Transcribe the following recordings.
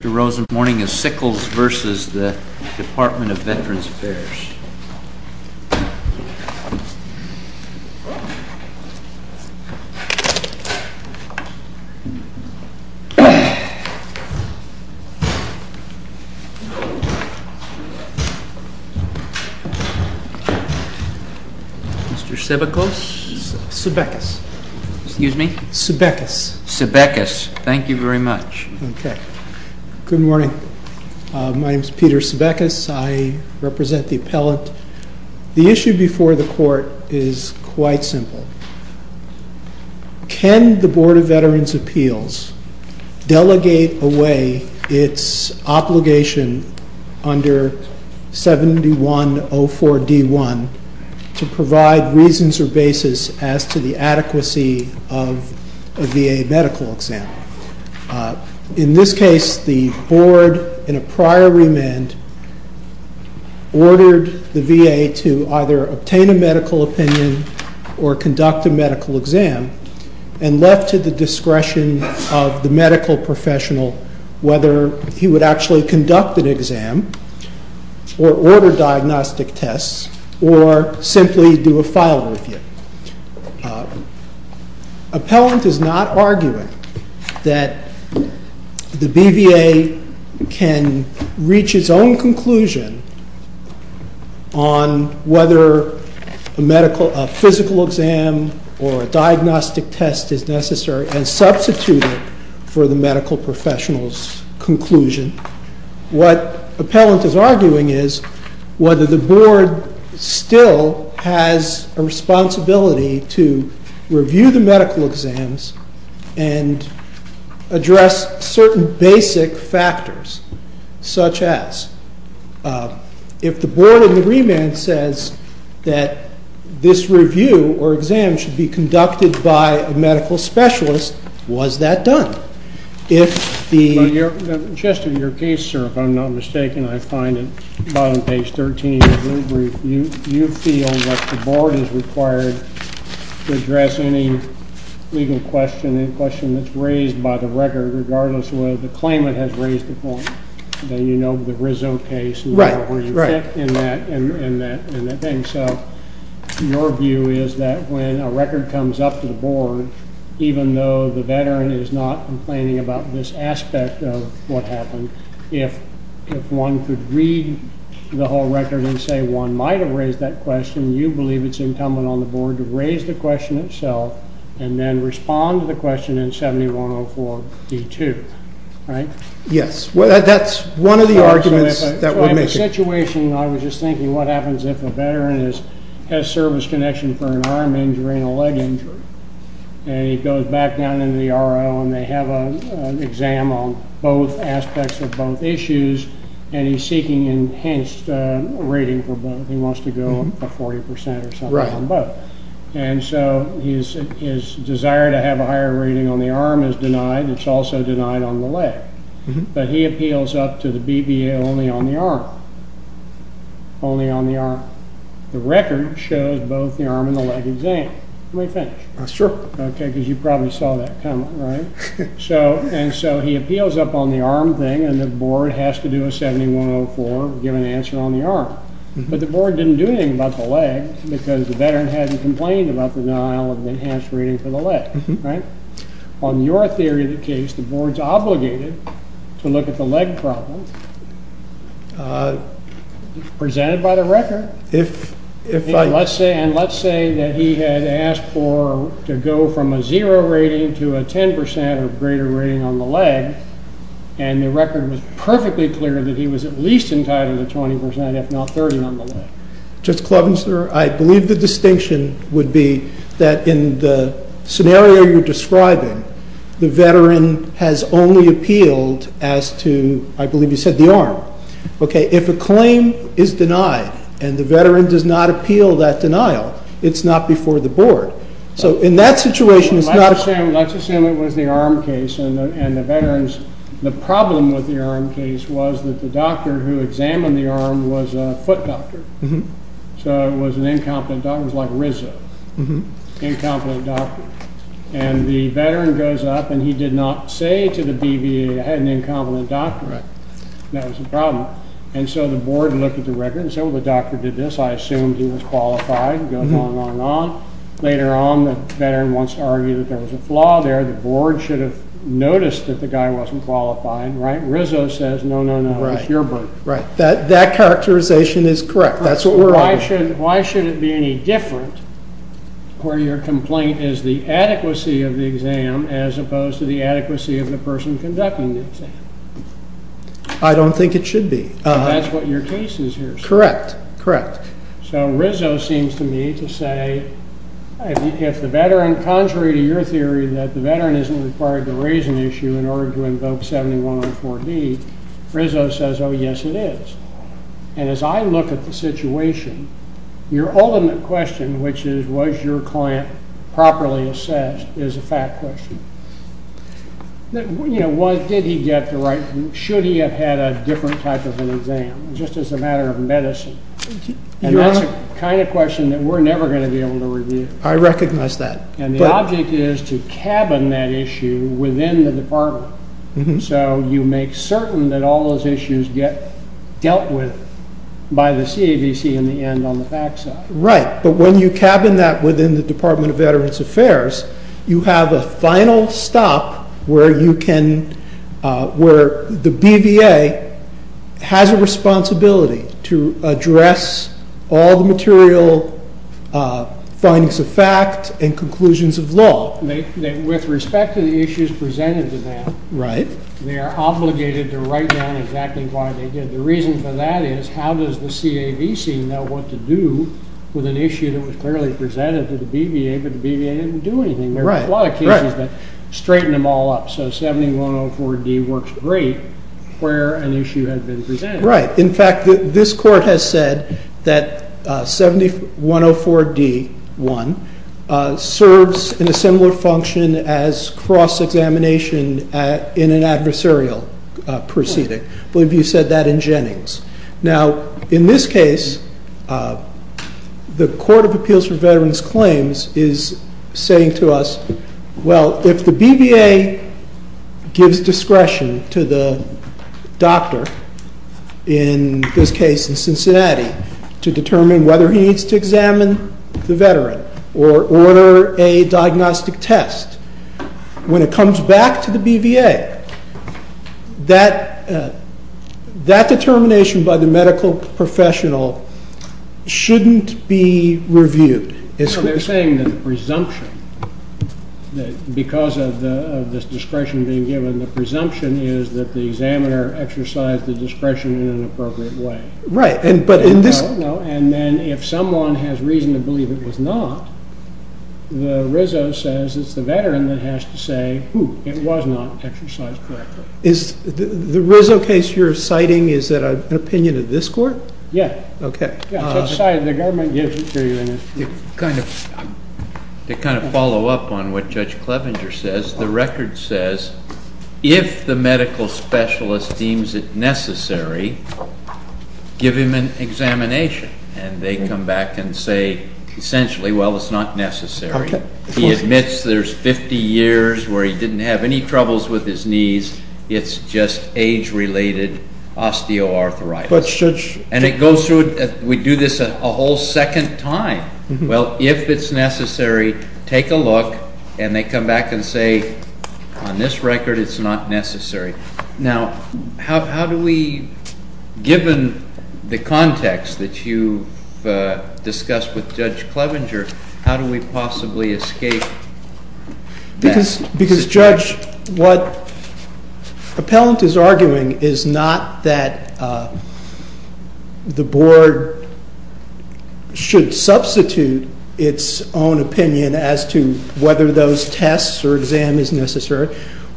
Dr. Rosen, Morning of Sickles v. The Department of Veterans Affairs. Mr. Sebekos? Sebekos. Excuse me? Sebekos. Sebekos. Thank you very much. Okay. Good morning. My name is Peter Sebekos. I represent the appellant. The issue before the court is quite simple. Can the Board of Veterans' Appeals delegate away its obligation under 71-04-D1 to provide reasons or basis as to the adequacy of a VA medical exam? In this case, the Board, in a prior remand, ordered the VA to either obtain a medical opinion or conduct a medical exam and left to the discretion of the medical professional whether he would actually conduct an exam or order diagnostic tests or simply do a file review. Appellant is not arguing that the BVA can reach its own conclusion on whether a physical exam or a diagnostic test is necessary and substituted for the medical professional's conclusion. What appellant is arguing is whether the Board still has a responsibility to review the medical exams and address certain basic factors, such as if the Board, in the remand, says that this review or exam should be conducted by a medical specialist, was that done? Chester, in your case, sir, if I'm not mistaken, I find it, bottom page 13 of your brief, you feel that the Board is required to address any legal question, any question that's raised by the record, regardless of whether the claimant has raised the point, then you know the result case and where you fit in that thing. So your view is that when a record comes up to the Board, even though the veteran is not complaining about this aspect of what happened, if one could read the whole record and say one might have raised that question, you believe it's incumbent on the Board to raise the question itself and then respond to the question in 7104D2, right? Yes. That's one of the arguments that would make it. In the situation, I was just thinking, what happens if a veteran has service connection for an arm injury and a leg injury, and he goes back down into the R.O., and they have an exam on both aspects of both issues, and he's seeking enhanced rating for both. He wants to go up to 40% or something on both. And so his desire to have a higher rating on the arm is denied. It's also denied on the leg. But he appeals up to the BBA only on the arm, only on the arm. The record shows both the arm and the leg exam. Let me finish. Sure. Okay, because you probably saw that coming, right? And so he appeals up on the arm thing, and the Board has to do a 7104, give an answer on the arm. But the Board didn't do anything about the leg because the veteran hadn't complained about the denial of enhanced rating for the leg, right? On your theory of the case, the Board's obligated to look at the leg problem presented by the record. And let's say that he had asked to go from a zero rating to a 10% or greater rating on the leg, and the record was perfectly clear that he was at least entitled to 20%, if not 30%, on the leg. Judge Klovenster, I believe the distinction would be that in the scenario you're describing, the veteran has only appealed as to, I believe you said, the arm. Okay, if a claim is denied and the veteran does not appeal that denial, it's not before the Board. So in that situation, it's not a— Let's assume it was the arm case, and the problem with the arm case was that the doctor who examined the arm was a foot doctor. So it was an incompetent doctor. It was like Rizzo, an incompetent doctor. And the veteran goes up, and he did not say to the BVA, I had an incompetent doctor, and that was the problem. And so the Board looked at the record and said, well, the doctor did this. I assumed he was qualified, and it goes on and on and on. Later on, the veteran wants to argue that there was a flaw there. The Board should have noticed that the guy wasn't qualified, right? Rizzo says, no, no, no, it was your bird. Right, that characterization is correct. That's what we're arguing. Why should it be any different where your complaint is the adequacy of the exam as opposed to the adequacy of the person conducting the exam? I don't think it should be. That's what your case is here. Correct, correct. So Rizzo seems to me to say, if the veteran, contrary to your theory, that the veteran isn't required to raise an issue in order to invoke 7104B, Rizzo says, oh, yes, it is. And as I look at the situation, your ultimate question, which is, was your client properly assessed, is a fact question. You know, did he get the right, should he have had a different type of an exam, just as a matter of medicine? And that's the kind of question that we're never going to be able to review. I recognize that. And the object is to cabin that issue within the department. So you make certain that all those issues get dealt with by the CAVC in the end on the back side. Right. But when you cabin that within the Department of Veterans Affairs, you have a final stop where you can, where the BVA has a responsibility to address all the material findings of fact and conclusions of law. Well, with respect to the issues presented to them, they are obligated to write down exactly why they did. The reason for that is, how does the CAVC know what to do with an issue that was clearly presented to the BVA, but the BVA didn't do anything? There were a lot of cases that straightened them all up. So 7104D works great where an issue had been presented. Right. In fact, this court has said that 7104D1 serves in a similar function as cross-examination in an adversarial proceeding. I believe you said that in Jennings. Now, in this case, the Court of Appeals for Veterans Claims is saying to us, well, if the BVA gives discretion to the doctor, in this case in Cincinnati, to determine whether he needs to examine the veteran or order a diagnostic test, when it comes back to the BVA, that determination by the medical professional shouldn't be reviewed. No, they're saying that the presumption, because of this discretion being given, the presumption is that the examiner exercised the discretion in an appropriate way. Right. And then if someone has reason to believe it was not, the RISO says it's the veteran that has to say, ooh, it was not exercised correctly. The RISO case you're citing, is that an opinion of this court? Yeah. Okay. To kind of follow up on what Judge Clevenger says, the record says, if the medical specialist deems it necessary, give him an examination. And they come back and say, essentially, well, it's not necessary. He admits there's 50 years where he didn't have any troubles with his knees. It's just age-related osteoarthritis. And it goes through, we do this a whole second time. Well, if it's necessary, take a look, and they come back and say, on this record, it's not necessary. Now, how do we, given the context that you've discussed with Judge Clevenger, how do we possibly escape this? Because, Judge, what appellant is arguing is not that the board should substitute its own opinion as to whether those tests or exam is necessary.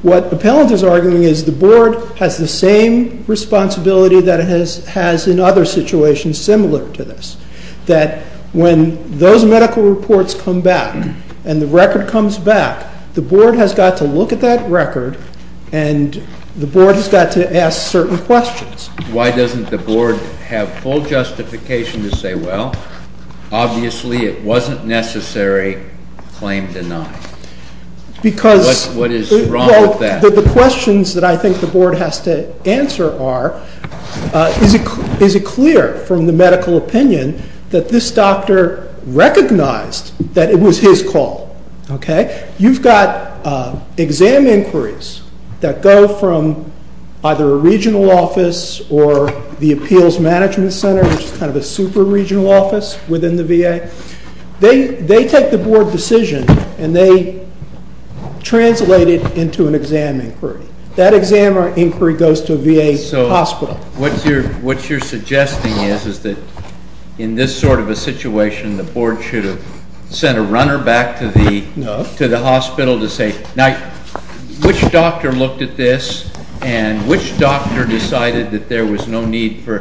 What appellant is arguing is the board has the same responsibility that it has in other situations similar to this. That when those medical reports come back and the record comes back, the board has got to look at that record, and the board has got to ask certain questions. Why doesn't the board have full justification to say, well, obviously it wasn't necessary, claim denied? What is wrong with that? The questions that I think the board has to answer are, is it clear from the medical opinion that this doctor recognized that it was his call? You've got exam inquiries that go from either a regional office or the Appeals Management Center, which is kind of a super regional office within the VA. They take the board decision, and they translate it into an exam inquiry. That exam inquiry goes to a VA hospital. So, what you're suggesting is that in this sort of a situation, the board should have sent a runner back to the hospital to say, now, which doctor looked at this, and which doctor decided that there was no need for,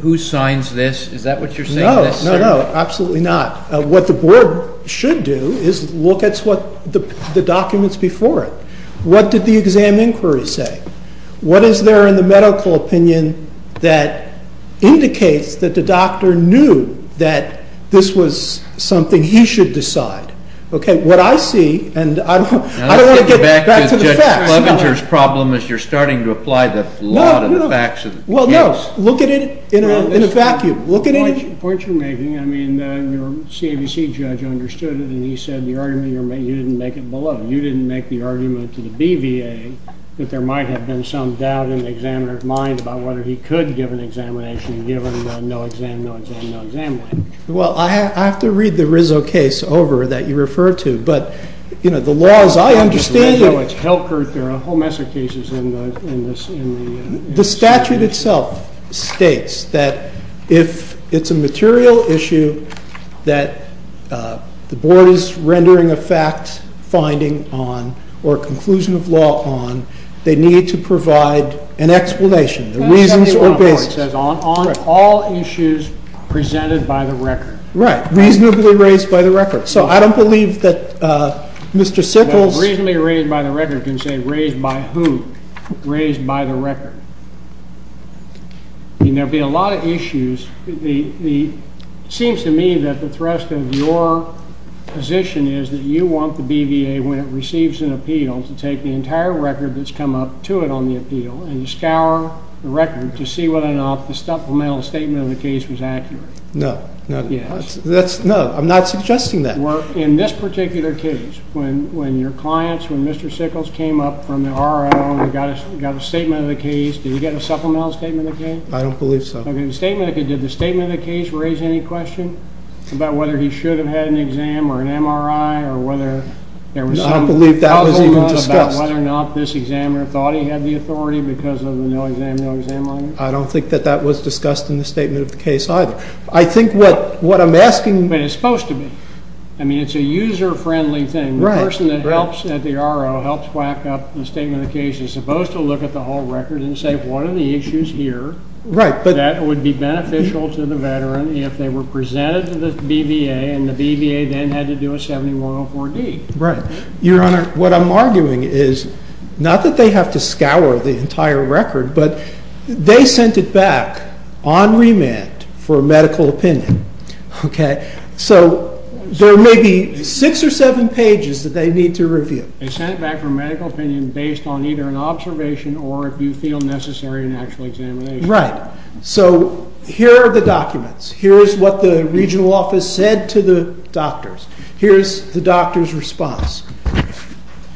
who signs this? Is that what you're saying? No, no, no, absolutely not. What the board should do is look at the documents before it. What did the exam inquiry say? What is there in the medical opinion that indicates that the doctor knew that this was something he should decide? Okay, what I see, and I don't want to get back to the facts. Let's get back to Judge Clevenger's problem, as you're starting to apply the law to the facts of the case. Well, no, look at it in a vacuum. Look at it. The point you're making, I mean, your CAVC judge understood it, and he said the argument you're making, you didn't make it below. You didn't make the argument to the BVA that there might have been some doubt in the examiner's mind about whether he could give an examination given the no-exam, no-exam, no-exam language. Well, I have to read the Rizzo case over that you referred to, but, you know, the laws, I understand it. I know it's hell-curt. There are a whole mess of cases in the statute. The statute itself states that if it's a material issue that the board is rendering a fact-finding on or a conclusion of law on, they need to provide an explanation, the reasons or basis. It says on all issues presented by the record. Right, reasonably raised by the record. So I don't believe that Mr. Sickles- I mean, there'll be a lot of issues. It seems to me that the thrust of your position is that you want the BVA, when it receives an appeal, to take the entire record that's come up to it on the appeal and scour the record to see whether or not the supplemental statement of the case was accurate. No. No, I'm not suggesting that. In this particular case, when your clients, when Mr. Sickles came up from the RIO and got a statement of the case, did he get a supplemental statement of the case? I don't believe so. Okay, did the statement of the case raise any question about whether he should have had an exam or an MRI or whether there was some problem about whether or not this examiner thought he had the authority because of the no-exam, no-exam liners? I don't think that that was discussed in the statement of the case either. I think what I'm asking- But it's supposed to be. I mean, it's a user-friendly thing. The person that helps at the RIO helps back up the statement of the case is supposed to look at the whole record and say what are the issues here that would be beneficial to the veteran if they were presented to the BVA and the BVA then had to do a 7104D. Right. Your Honor, what I'm arguing is not that they have to scour the entire record, but they sent it back on remand for a medical opinion, okay? So there may be 6 or 7 pages that they need to review. They sent it back for a medical opinion based on either an observation or if you feel necessary an actual examination. Right. So here are the documents. Here is what the regional office said to the doctors. Here is the doctor's response.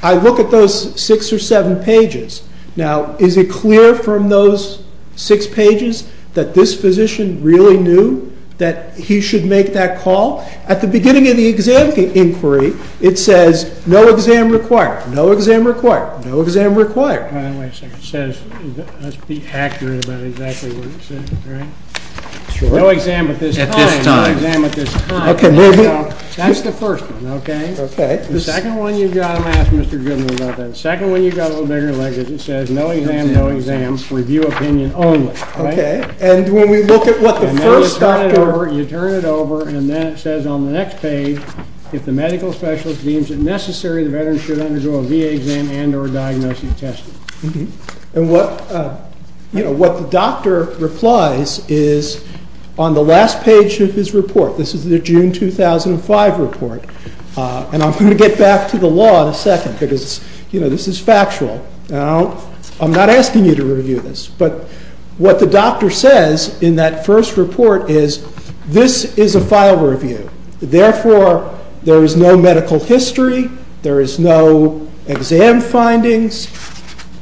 I look at those 6 or 7 pages. Now, is it clear from those 6 pages that this physician really knew that he should make that call? At the beginning of the exam inquiry, it says no exam required, no exam required, no exam required. Wait a second. It says, let's be accurate about exactly what it says, right? Sure. No exam at this time. At this time. No exam at this time. Okay, moving on. That's the first one, okay? Okay. The second one you've got, I'm going to ask Mr. Goodman about that. The second one you've got a little bigger language. It says no exam, no exam, review opinion only. Okay. And when we look at what the first doctor. You turn it over and then it says on the next page, if the medical specialist deems it necessary, the veteran should undergo a VA exam and or diagnostic testing. And what the doctor replies is on the last page of his report. This is the June 2005 report. And I'm going to get back to the law in a second because, you know, this is factual. Now, I'm not asking you to review this, but what the doctor says in that first report is this is a file review. Therefore, there is no medical history. There is no exam findings.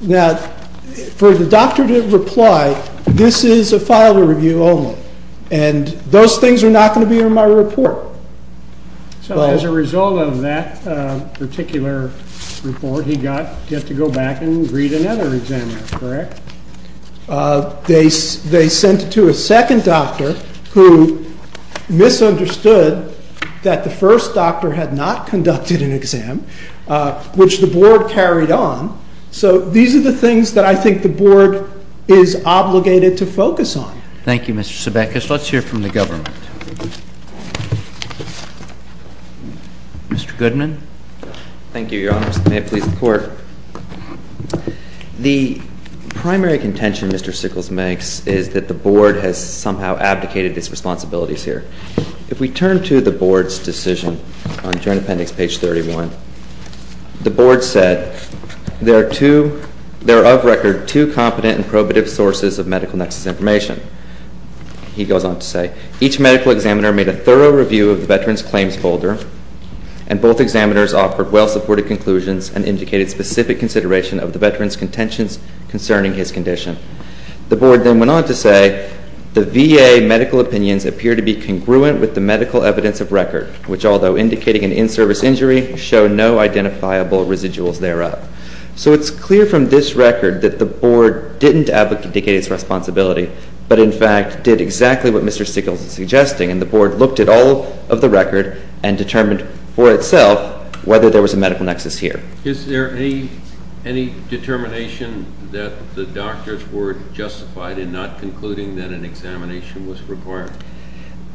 Now, for the doctor to reply, this is a file review only, and those things are not going to be in my report. So as a result of that particular report, he got to go back and read another exam, correct? They sent it to a second doctor who misunderstood that the first doctor had not conducted an exam, which the board carried on. So these are the things that I think the board is obligated to focus on. Thank you, Mr. Sebekus. Next, let's hear from the government. Mr. Goodman. Thank you, Your Honors. May it please the Court. The primary contention Mr. Sickles makes is that the board has somehow abdicated its responsibilities here. If we turn to the board's decision on adjournment appendix page 31, the board said, There are of record two competent and probative sources of medical nexus information. He goes on to say, Each medical examiner made a thorough review of the veteran's claims folder, and both examiners offered well-supported conclusions and indicated specific consideration of the veteran's contentions concerning his condition. The board then went on to say, The VA medical opinions appear to be congruent with the medical evidence of record, which, although indicating an in-service injury, show no identifiable residuals thereof. So it's clear from this record that the board didn't abdicate its responsibility, but in fact did exactly what Mr. Sickles is suggesting, and the board looked at all of the record and determined for itself whether there was a medical nexus here. Is there any determination that the doctors were justified in not concluding that an examination was required?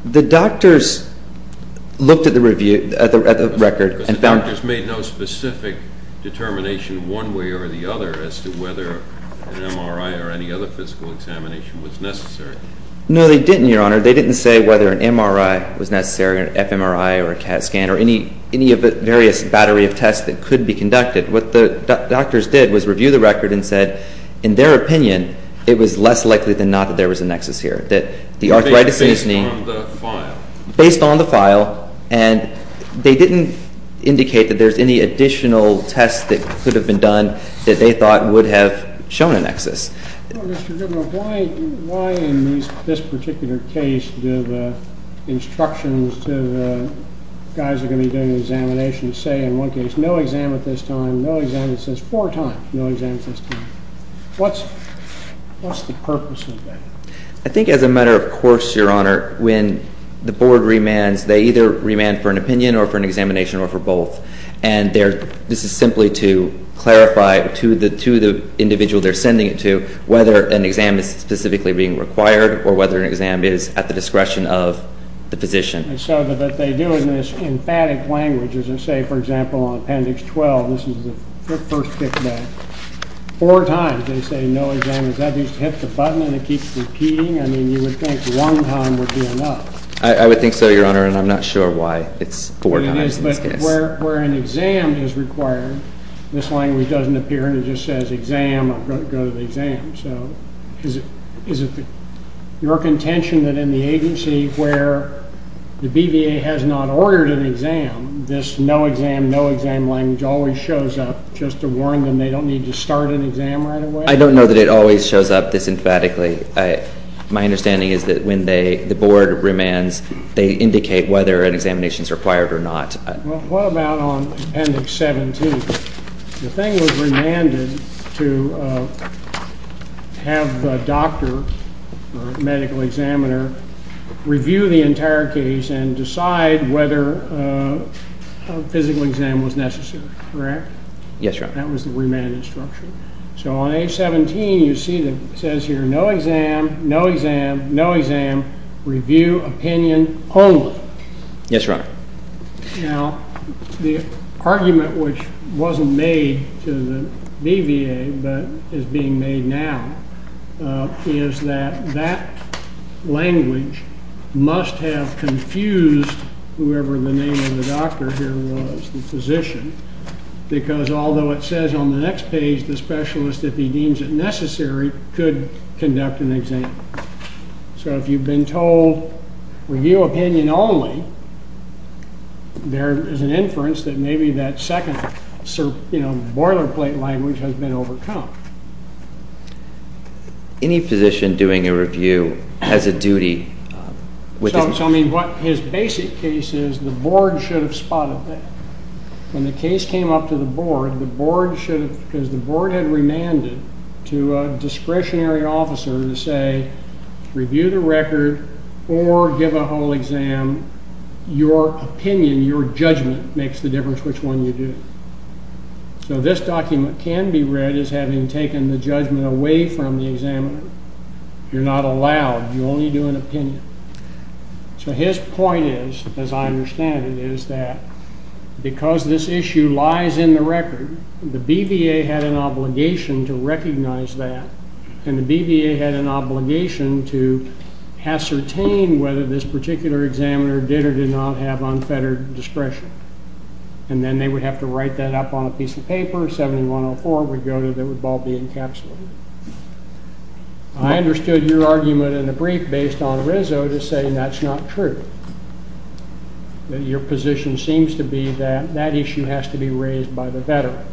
The doctors looked at the record and found Because the doctors made no specific determination one way or the other as to whether an MRI or any other physical examination was necessary. No, they didn't, Your Honor. They didn't say whether an MRI was necessary or an fMRI or a CAT scan or any of the various battery of tests that could be conducted. What the doctors did was review the record and said, In their opinion, it was less likely than not that there was a nexus here, that the arthritis is based on the file, and they didn't indicate that there's any additional tests that could have been done that they thought would have shown a nexus. Mr. Goodman, why in this particular case do the instructions to the guys that are going to be doing the examination say, in one case, no exam at this time, no exam at this time? It says four times, no exam at this time. What's the purpose of that? I think as a matter of course, Your Honor, when the board remands, they either remand for an opinion or for an examination or for both. And this is simply to clarify to the individual they're sending it to whether an exam is specifically being required or whether an exam is at the discretion of the physician. So what they do in this emphatic language is they say, for example, on Appendix 12, this is the first kickback, four times they say no exam. Does that just hit the button and it keeps repeating? I mean, you would think one time would be enough. I would think so, Your Honor, and I'm not sure why it's four times in this case. But where an exam is required, this language doesn't appear and it just says exam or go to the exam. So is it your contention that in the agency where the BVA has not ordered an exam, this no exam, no exam language always shows up just to warn them they don't need to start an exam right away? I don't know that it always shows up this emphatically. My understanding is that when the board remands, they indicate whether an examination is required or not. Well, what about on Appendix 17? The thing was remanded to have the doctor or medical examiner review the entire case and decide whether a physical exam was necessary, correct? Yes, Your Honor. That was the remand instruction. So on H17, you see it says here no exam, no exam, no exam, review opinion only. Yes, Your Honor. Now, the argument which wasn't made to the BVA but is being made now is that that language must have confused whoever the name of the doctor here was, the physician, because although it says on the next page the specialist, if he deems it necessary, could conduct an exam. So if you've been told review opinion only, there is an inference that maybe that second boilerplate language has been overcome. Any physician doing a review has a duty. So, I mean, what his basic case is, the board should have spotted that. When the case came up to the board, the board should have, because the board had remanded to a discretionary officer to say, review the record or give a whole exam. Your opinion, your judgment makes the difference which one you do. So this document can be read as having taken the judgment away from the examiner. You're not allowed. You only do an opinion. So his point is, as I understand it, is that because this issue lies in the record, the BVA had an obligation to recognize that, and the BVA had an obligation to ascertain whether this particular examiner did or did not have unfettered discretion. And then they would have to write that up on a piece of paper, 7104 would go to, that would all be encapsulated. I understood your argument in the brief based on Rizzo to say that's not true. Your position seems to be that that issue has to be raised by the veteran.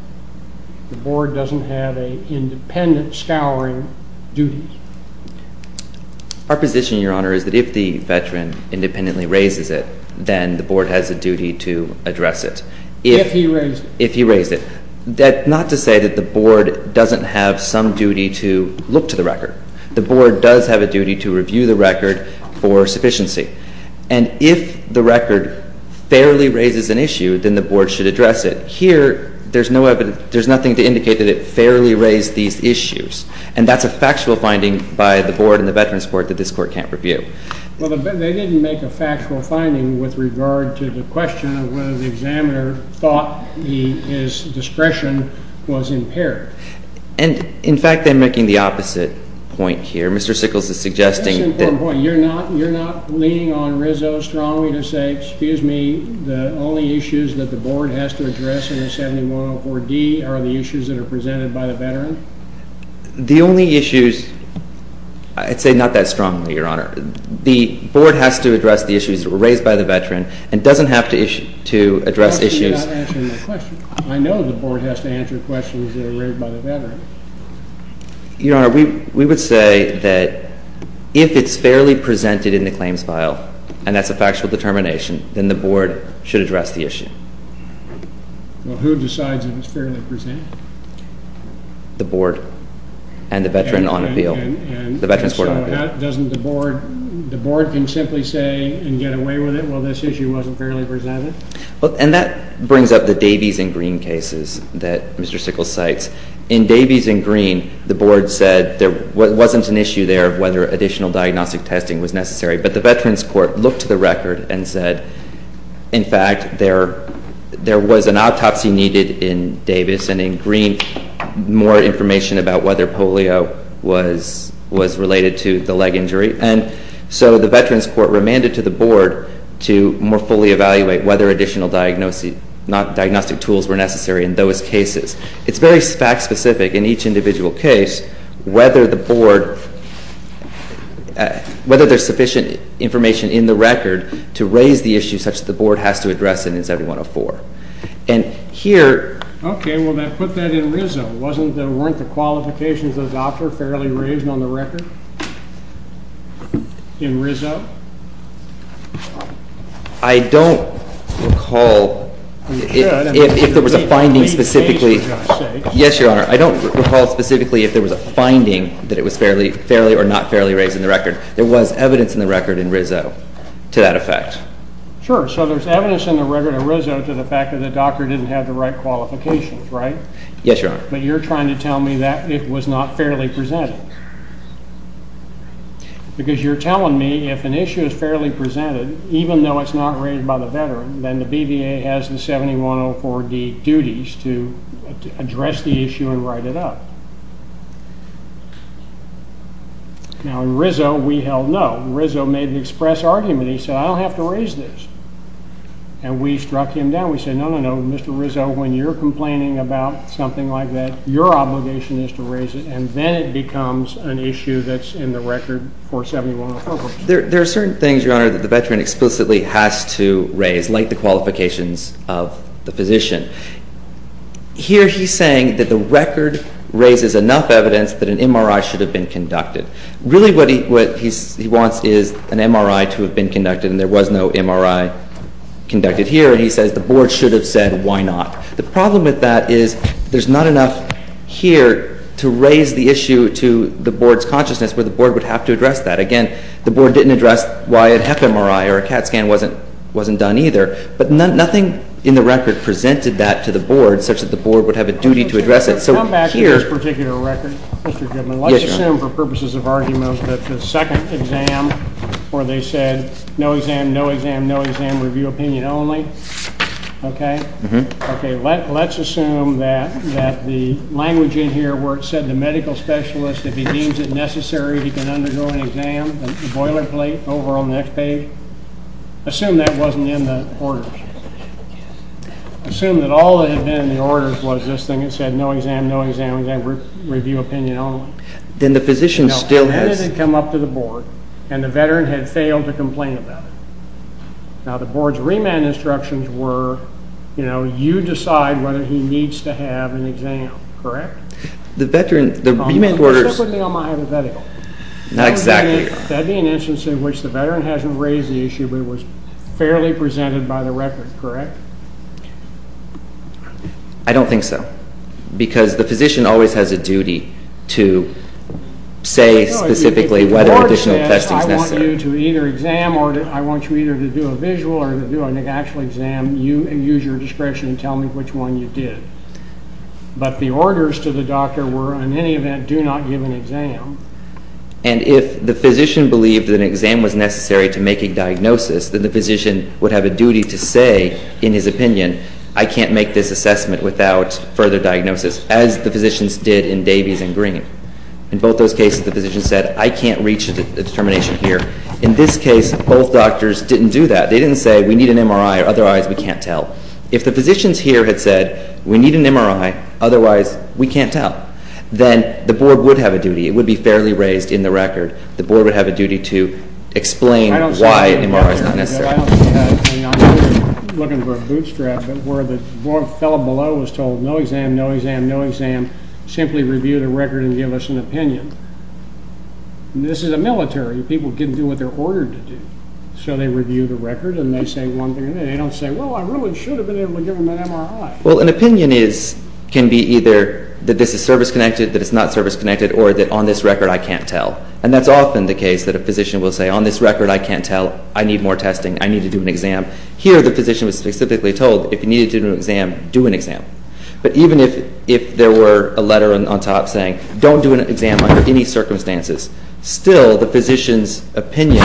The board doesn't have an independent scouring duty. Our position, Your Honor, is that if the veteran independently raises it, then the board has a duty to address it. If he raised it. If he raised it. Not to say that the board doesn't have some duty to look to the record. The board does have a duty to review the record for sufficiency. And if the record fairly raises an issue, then the board should address it. Here, there's no evidence, there's nothing to indicate that it fairly raised these issues. And that's a factual finding by the board and the veterans court that this court can't review. Well, they didn't make a factual finding with regard to the question of whether the examiner thought his discretion was impaired. And, in fact, I'm making the opposite point here. Mr. Sickles is suggesting that... That's an important point. You're not leaning on Rizzo strongly to say, excuse me, the only issues that the board has to address under 7104D are the issues that are presented by the veteran? The only issues... I'd say not that strongly, Your Honor. The board has to address the issues raised by the veteran and doesn't have to address issues... I know the board has to answer questions that are raised by the veteran. Your Honor, we would say that if it's fairly presented in the claims file, and that's a factual determination, then the board should address the issue. Well, who decides if it's fairly presented? The board and the veteran on appeal. And so that doesn't the board... The board can simply say and get away with it, well, this issue wasn't fairly presented? And that brings up the Davies and Green cases that Mr. Sickles cites. In Davies and Green, the board said there wasn't an issue there of whether additional diagnostic testing was necessary. But the Veterans Court looked to the record and said, in fact, there was an autopsy needed in Davies. And in Green, more information about whether polio was related to the leg injury. And so the Veterans Court remanded to the board to more fully evaluate whether additional diagnostic tools were necessary in those cases. It's very fact-specific in each individual case whether the board... Whether there's sufficient information in the record to raise the issue such that the board has to address it in 7104. And here... Okay, well, then put that in RISO. Weren't the qualifications of the officer fairly raised on the record? In RISO? I don't recall if there was a finding specifically... Yes, Your Honor. I don't recall specifically if there was a finding that it was fairly or not fairly raised in the record. There was evidence in the record in RISO to that effect. Sure. So there's evidence in the record in RISO to the fact that the doctor didn't have the right qualifications, right? Yes, Your Honor. But you're trying to tell me that it was not fairly presented. Because you're telling me if an issue is fairly presented, even though it's not raised by the veteran, then the BVA has the 7104D duties to address the issue and write it up. Now, in RISO, we held no. RISO made an express argument. He said, I don't have to raise this. And we struck him down. We said, no, no, no. Mr. RISO, when you're complaining about something like that, your obligation is to raise it. And then it becomes an issue that's in the record for 7104. There are certain things, Your Honor, that the veteran explicitly has to raise, like the qualifications of the physician. Here he's saying that the record raises enough evidence that an MRI should have been conducted. Really what he wants is an MRI to have been conducted, and there was no MRI conducted here. And he says the board should have said, why not? The problem with that is there's not enough here to raise the issue to the board's consciousness, where the board would have to address that. Again, the board didn't address why a hep MRI or a CAT scan wasn't done either. But nothing in the record presented that to the board, such that the board would have a duty to address it. So here— Come back to this particular record, Mr. Goodman. Yes, Your Honor. Let's assume, for purposes of argument, that the second exam, where they said no exam, no exam, no exam, review opinion only. Okay? Okay, let's assume that the language in here where it said the medical specialist, if he deems it necessary, he can undergo an exam, the boilerplate over on the next page. Assume that wasn't in the orders. Assume that all that had been in the orders was this thing that said no exam, no exam, review opinion only. Then the physician still has— No, opinion had come up to the board, and the veteran had failed to complain about it. Now, the board's remand instructions were, you know, you decide whether he needs to have an exam. Correct? The veteran—the remand orders— Except when they all might have a medical. Not exactly. That'd be an instance in which the veteran hasn't raised the issue, but it was fairly presented by the record. Correct? I don't think so. Because the physician always has a duty to say specifically whether additional testing is necessary. I want you to either exam, or I want you either to do a visual or to do an actual exam, and use your discretion to tell me which one you did. But the orders to the doctor were, in any event, do not give an exam. And if the physician believed that an exam was necessary to make a diagnosis, then the physician would have a duty to say in his opinion, I can't make this assessment without further diagnosis, as the physicians did in Davies and Green. In both those cases, the physician said, I can't reach a determination here. In this case, both doctors didn't do that. They didn't say, we need an MRI, or otherwise we can't tell. If the physicians here had said, we need an MRI, otherwise we can't tell, then the board would have a duty. It would be fairly raised in the record. The board would have a duty to explain why an MRI is not necessary. I don't see that. I'm looking for a bootstrap. Where the fellow below was told, no exam, no exam, no exam. Simply review the record and give us an opinion. This is a military. People can do what they're ordered to do. So they review the record, and they say one thing. And they don't say, well, I really should have been able to give him an MRI. Well, an opinion can be either that this is service-connected, that it's not service-connected, or that on this record, I can't tell. And that's often the case that a physician will say, on this record, I can't tell. I need more testing. I need to do an exam. Here, the physician was specifically told, if you needed to do an exam, do an exam. But even if there were a letter on top saying, don't do an exam under any circumstances, still the physician's opinion,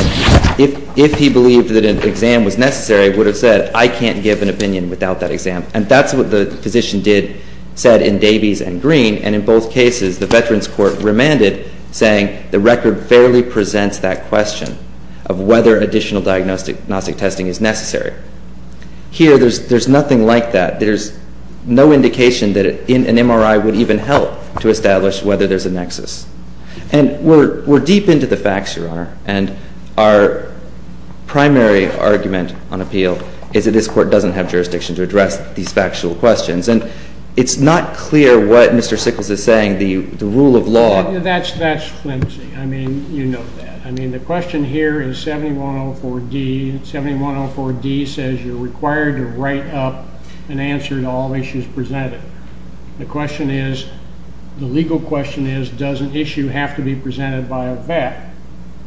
if he believed that an exam was necessary, would have said, I can't give an opinion without that exam. And that's what the physician did, said in Davies and Green. And in both cases, the Veterans Court remanded, saying the record barely presents that question of whether additional diagnostic testing is necessary. Here, there's nothing like that. There's no indication that an MRI would even help to establish whether there's a nexus. And we're deep into the facts, Your Honor. And our primary argument on appeal is that this Court doesn't have jurisdiction to address these factual questions. And it's not clear what Mr. Sickles is saying, the rule of law. That's flimsy. I mean, you know that. I mean, the question here is 7104D. 7104D says you're required to write up an answer to all issues presented. The question is, the legal question is, does an issue have to be presented by a vet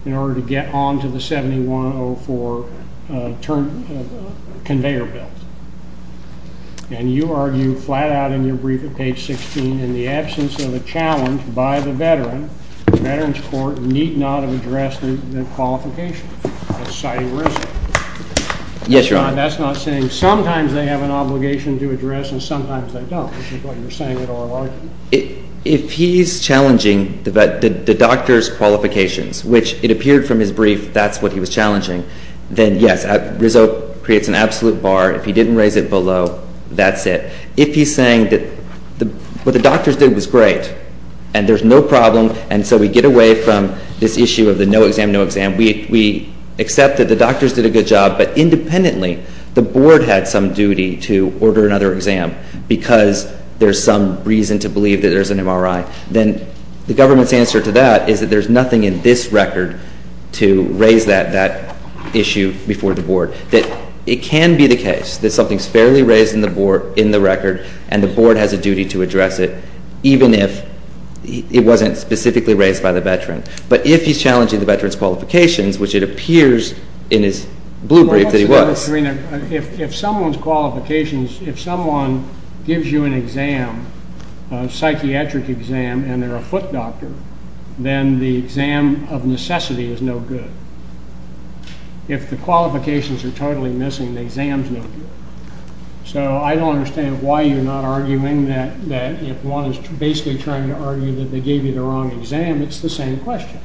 in order to get on to the 7104 conveyor belt? And you argue flat out in your brief at page 16, in the absence of a challenge by the veteran, the Veterans Court need not have addressed the qualifications, citing Rizzo. Yes, Your Honor. That's not saying sometimes they have an obligation to address and sometimes they don't, which is what you're saying at oral argument. If he's challenging the doctor's qualifications, which it appeared from his brief that's what he was challenging, then yes, Rizzo creates an absolute bar. If he didn't raise it below, that's it. If he's saying that what the doctors did was great and there's no problem and so we get away from this issue of the no exam, no exam. We accept that the doctors did a good job, but independently the board had some duty to order another exam because there's some reason to believe that there's an MRI. Then the government's answer to that is that there's nothing in this record to raise that issue before the board. That it can be the case that something's fairly raised in the record and the board has a duty to address it, even if it wasn't specifically raised by the veteran. But if he's challenging the veteran's qualifications, which it appears in his blue brief that he was. If someone's qualifications, if someone gives you an exam, a psychiatric exam, and they're a foot doctor, then the exam of necessity is no good. If the qualifications are totally missing, the exam's no good. So I don't understand why you're not arguing that if one is basically trying to argue that they gave you the wrong exam, it's the same question.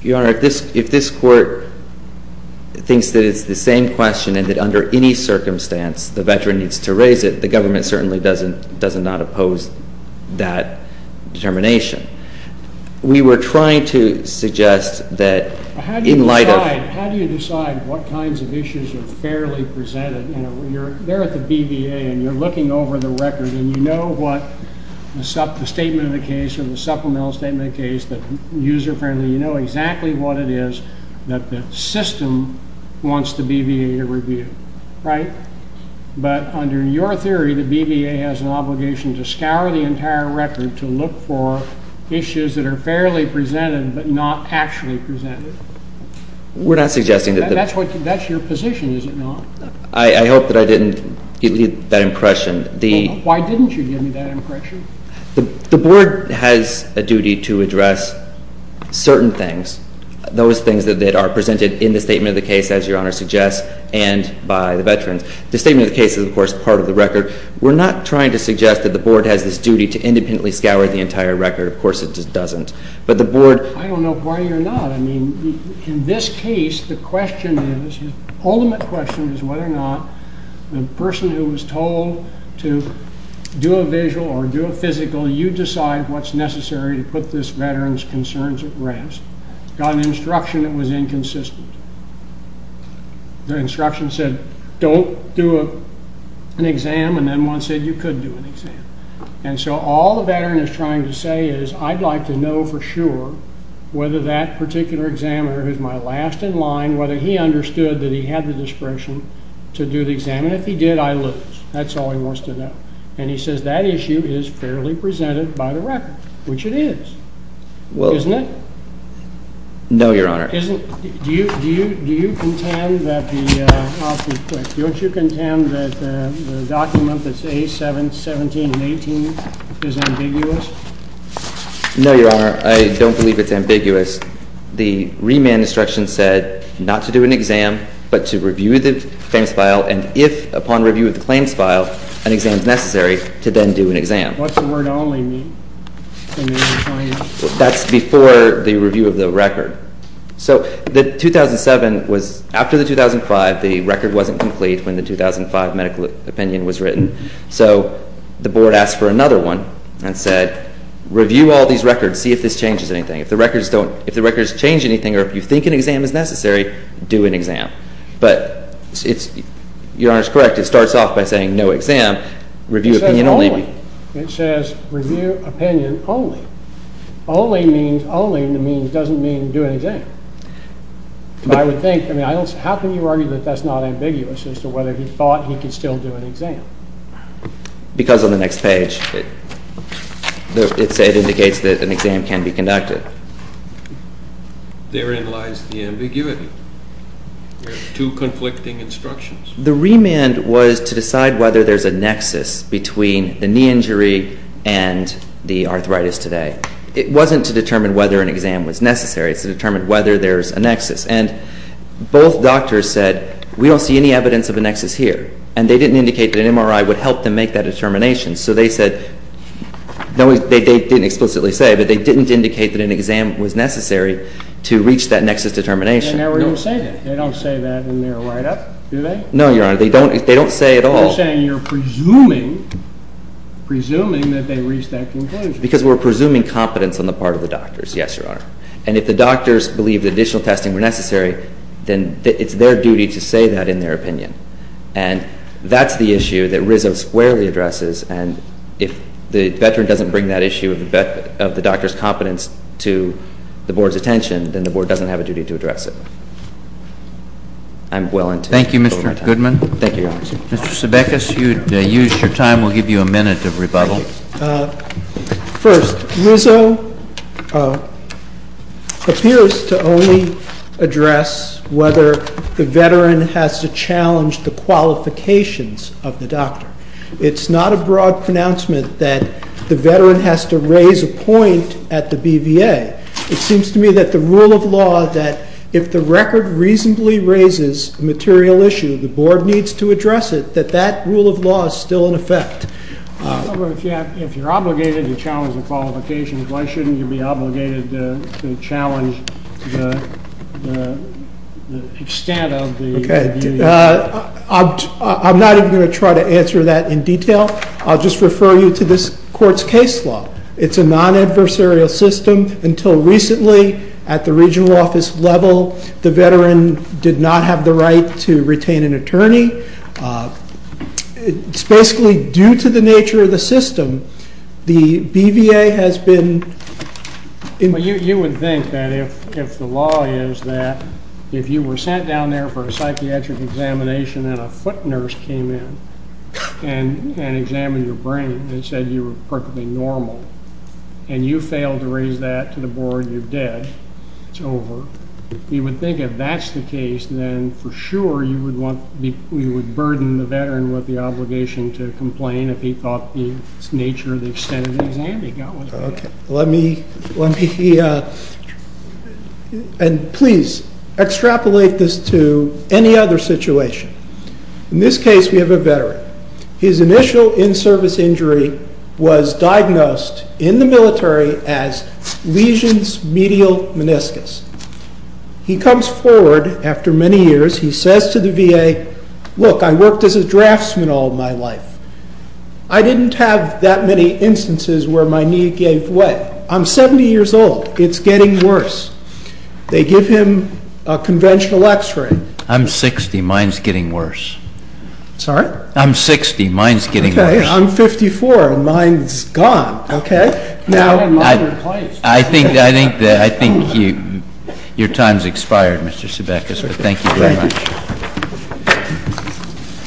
Your Honor, if this court thinks that it's the same question and that under any circumstance the veteran needs to raise it, the government certainly does not oppose that determination. We were trying to suggest that in light of... How do you decide what kinds of issues are fairly presented? You're there at the BVA and you're looking over the record and you know what the statement of the case or the supplemental statement of the case, that user-friendly. You know exactly what it is that the system wants the BVA to review, right? But under your theory, the BVA has an obligation to scour the entire record to look for issues that are fairly presented but not actually presented. We're not suggesting that... That's your position, is it not? I hope that I didn't leave that impression. Why didn't you give me that impression? The Board has a duty to address certain things, those things that are presented in the statement of the case, as Your Honor suggests, and by the veterans. The statement of the case is, of course, part of the record. We're not trying to suggest that the Board has this duty to independently scour the entire record. Of course, it doesn't. But the Board... I don't know why you're not. I mean, in this case, the question is... The ultimate question is whether or not the person who was told to do a visual or do a physical, you decide what's necessary to put this veteran's concerns at rest, got an instruction that was inconsistent. The instruction said, don't do an exam, and then one said you could do an exam. And so all the veteran is trying to say is, I'd like to know for sure whether that particular examiner, who's my last in line, whether he understood that he had the discretion to do the exam, and if he did, I lose. That's all he wants to know. And he says that issue is fairly presented by the record, which it is. Well... Isn't it? No, Your Honor. Isn't... Do you contend that the... I'll be quick. Don't you contend that the document that's A7-17-18 is ambiguous? No, Your Honor. I don't believe it's ambiguous. The remand instruction said not to do an exam, but to review the claims file, and if, upon review of the claims file, an exam is necessary, to then do an exam. What's the word only mean? That's before the review of the record. So the 2007 was... After the 2005, the record wasn't complete when the 2005 medical opinion was written. So the board asked for another one and said, review all these records, see if this changes anything. If the records don't... If the records change anything or if you think an exam is necessary, do an exam. But it's... Your Honor's correct. It starts off by saying no exam, review opinion only. It says only. Review opinion only. Only means... Only in the means doesn't mean do an exam. And I would think... I mean, I don't... How can you argue that that's not ambiguous as to whether he thought he could still do an exam? Because on the next page, it indicates that an exam can be conducted. Therein lies the ambiguity. There are two conflicting instructions. The remand was to decide whether there's a nexus between the knee injury and the arthritis today. It wasn't to determine whether an exam was necessary. It's to determine whether there's a nexus. And both doctors said, we don't see any evidence of a nexus here. And they didn't indicate that an MRI would help them make that determination. So they said... They didn't explicitly say, but they didn't indicate that an exam was necessary to reach that nexus determination. They never even say that. They don't say that in their write-up, do they? No, Your Honor. They don't say at all. They're saying you're presuming that they reached that conclusion. Because we're presuming competence on the part of the doctors. Yes, Your Honor. And if the doctors believe that additional testing were necessary, then it's their duty to say that in their opinion. And that's the issue that Rizzo squarely addresses. And if the veteran doesn't bring that issue of the doctor's competence to the board's attention, then the board doesn't have a duty to address it. I'm willing to... Thank you, Mr. Goodman. Thank you, Your Honor. Mr. Sebekis, you've used your time. We'll give you a minute of rebuttal. First, Rizzo appears to only address whether the veteran has to challenge the qualifications of the doctor. It's not a broad pronouncement that the veteran has to raise a point at the BVA. It seems to me that the rule of law that if the record reasonably raises a material issue, the board needs to address it, that that rule of law is still in effect. If you're obligated to challenge the qualifications, why shouldn't you be obligated to challenge the extent of the BVA? I'm not even going to try to answer that in detail. I'll just refer you to this court's case law. It's a non-adversarial system. Until recently, at the regional office level, the veteran did not have the right to retain an attorney. It's basically due to the nature of the system. The BVA has been... You would think that if the law is that if you were sent down there for a psychiatric examination and a foot nurse came in and examined your brain and said you were perfectly normal and you failed to raise that to the board, you're dead. It's over. You would think if that's the case, then for sure you would burden the veteran with the obligation to complain if he thought the nature of the extent of the exam he got was bad. Okay, let me... And please extrapolate this to any other situation. In this case, we have a veteran. His initial in-service injury was diagnosed in the military as lesions medial meniscus. He comes forward after many years. He says to the VA, look, I worked as a draftsman all my life. I didn't have that many instances where my knee gave way. I'm 70 years old. It's getting worse. They give him a conventional x-ray. I'm 60. Mine's getting worse. Sorry? I'm 60. Mine's getting worse. Okay. I'm 54, and mine's gone. Now... I think your time's expired, Mr. Sebekas, but thank you very much. Thank you.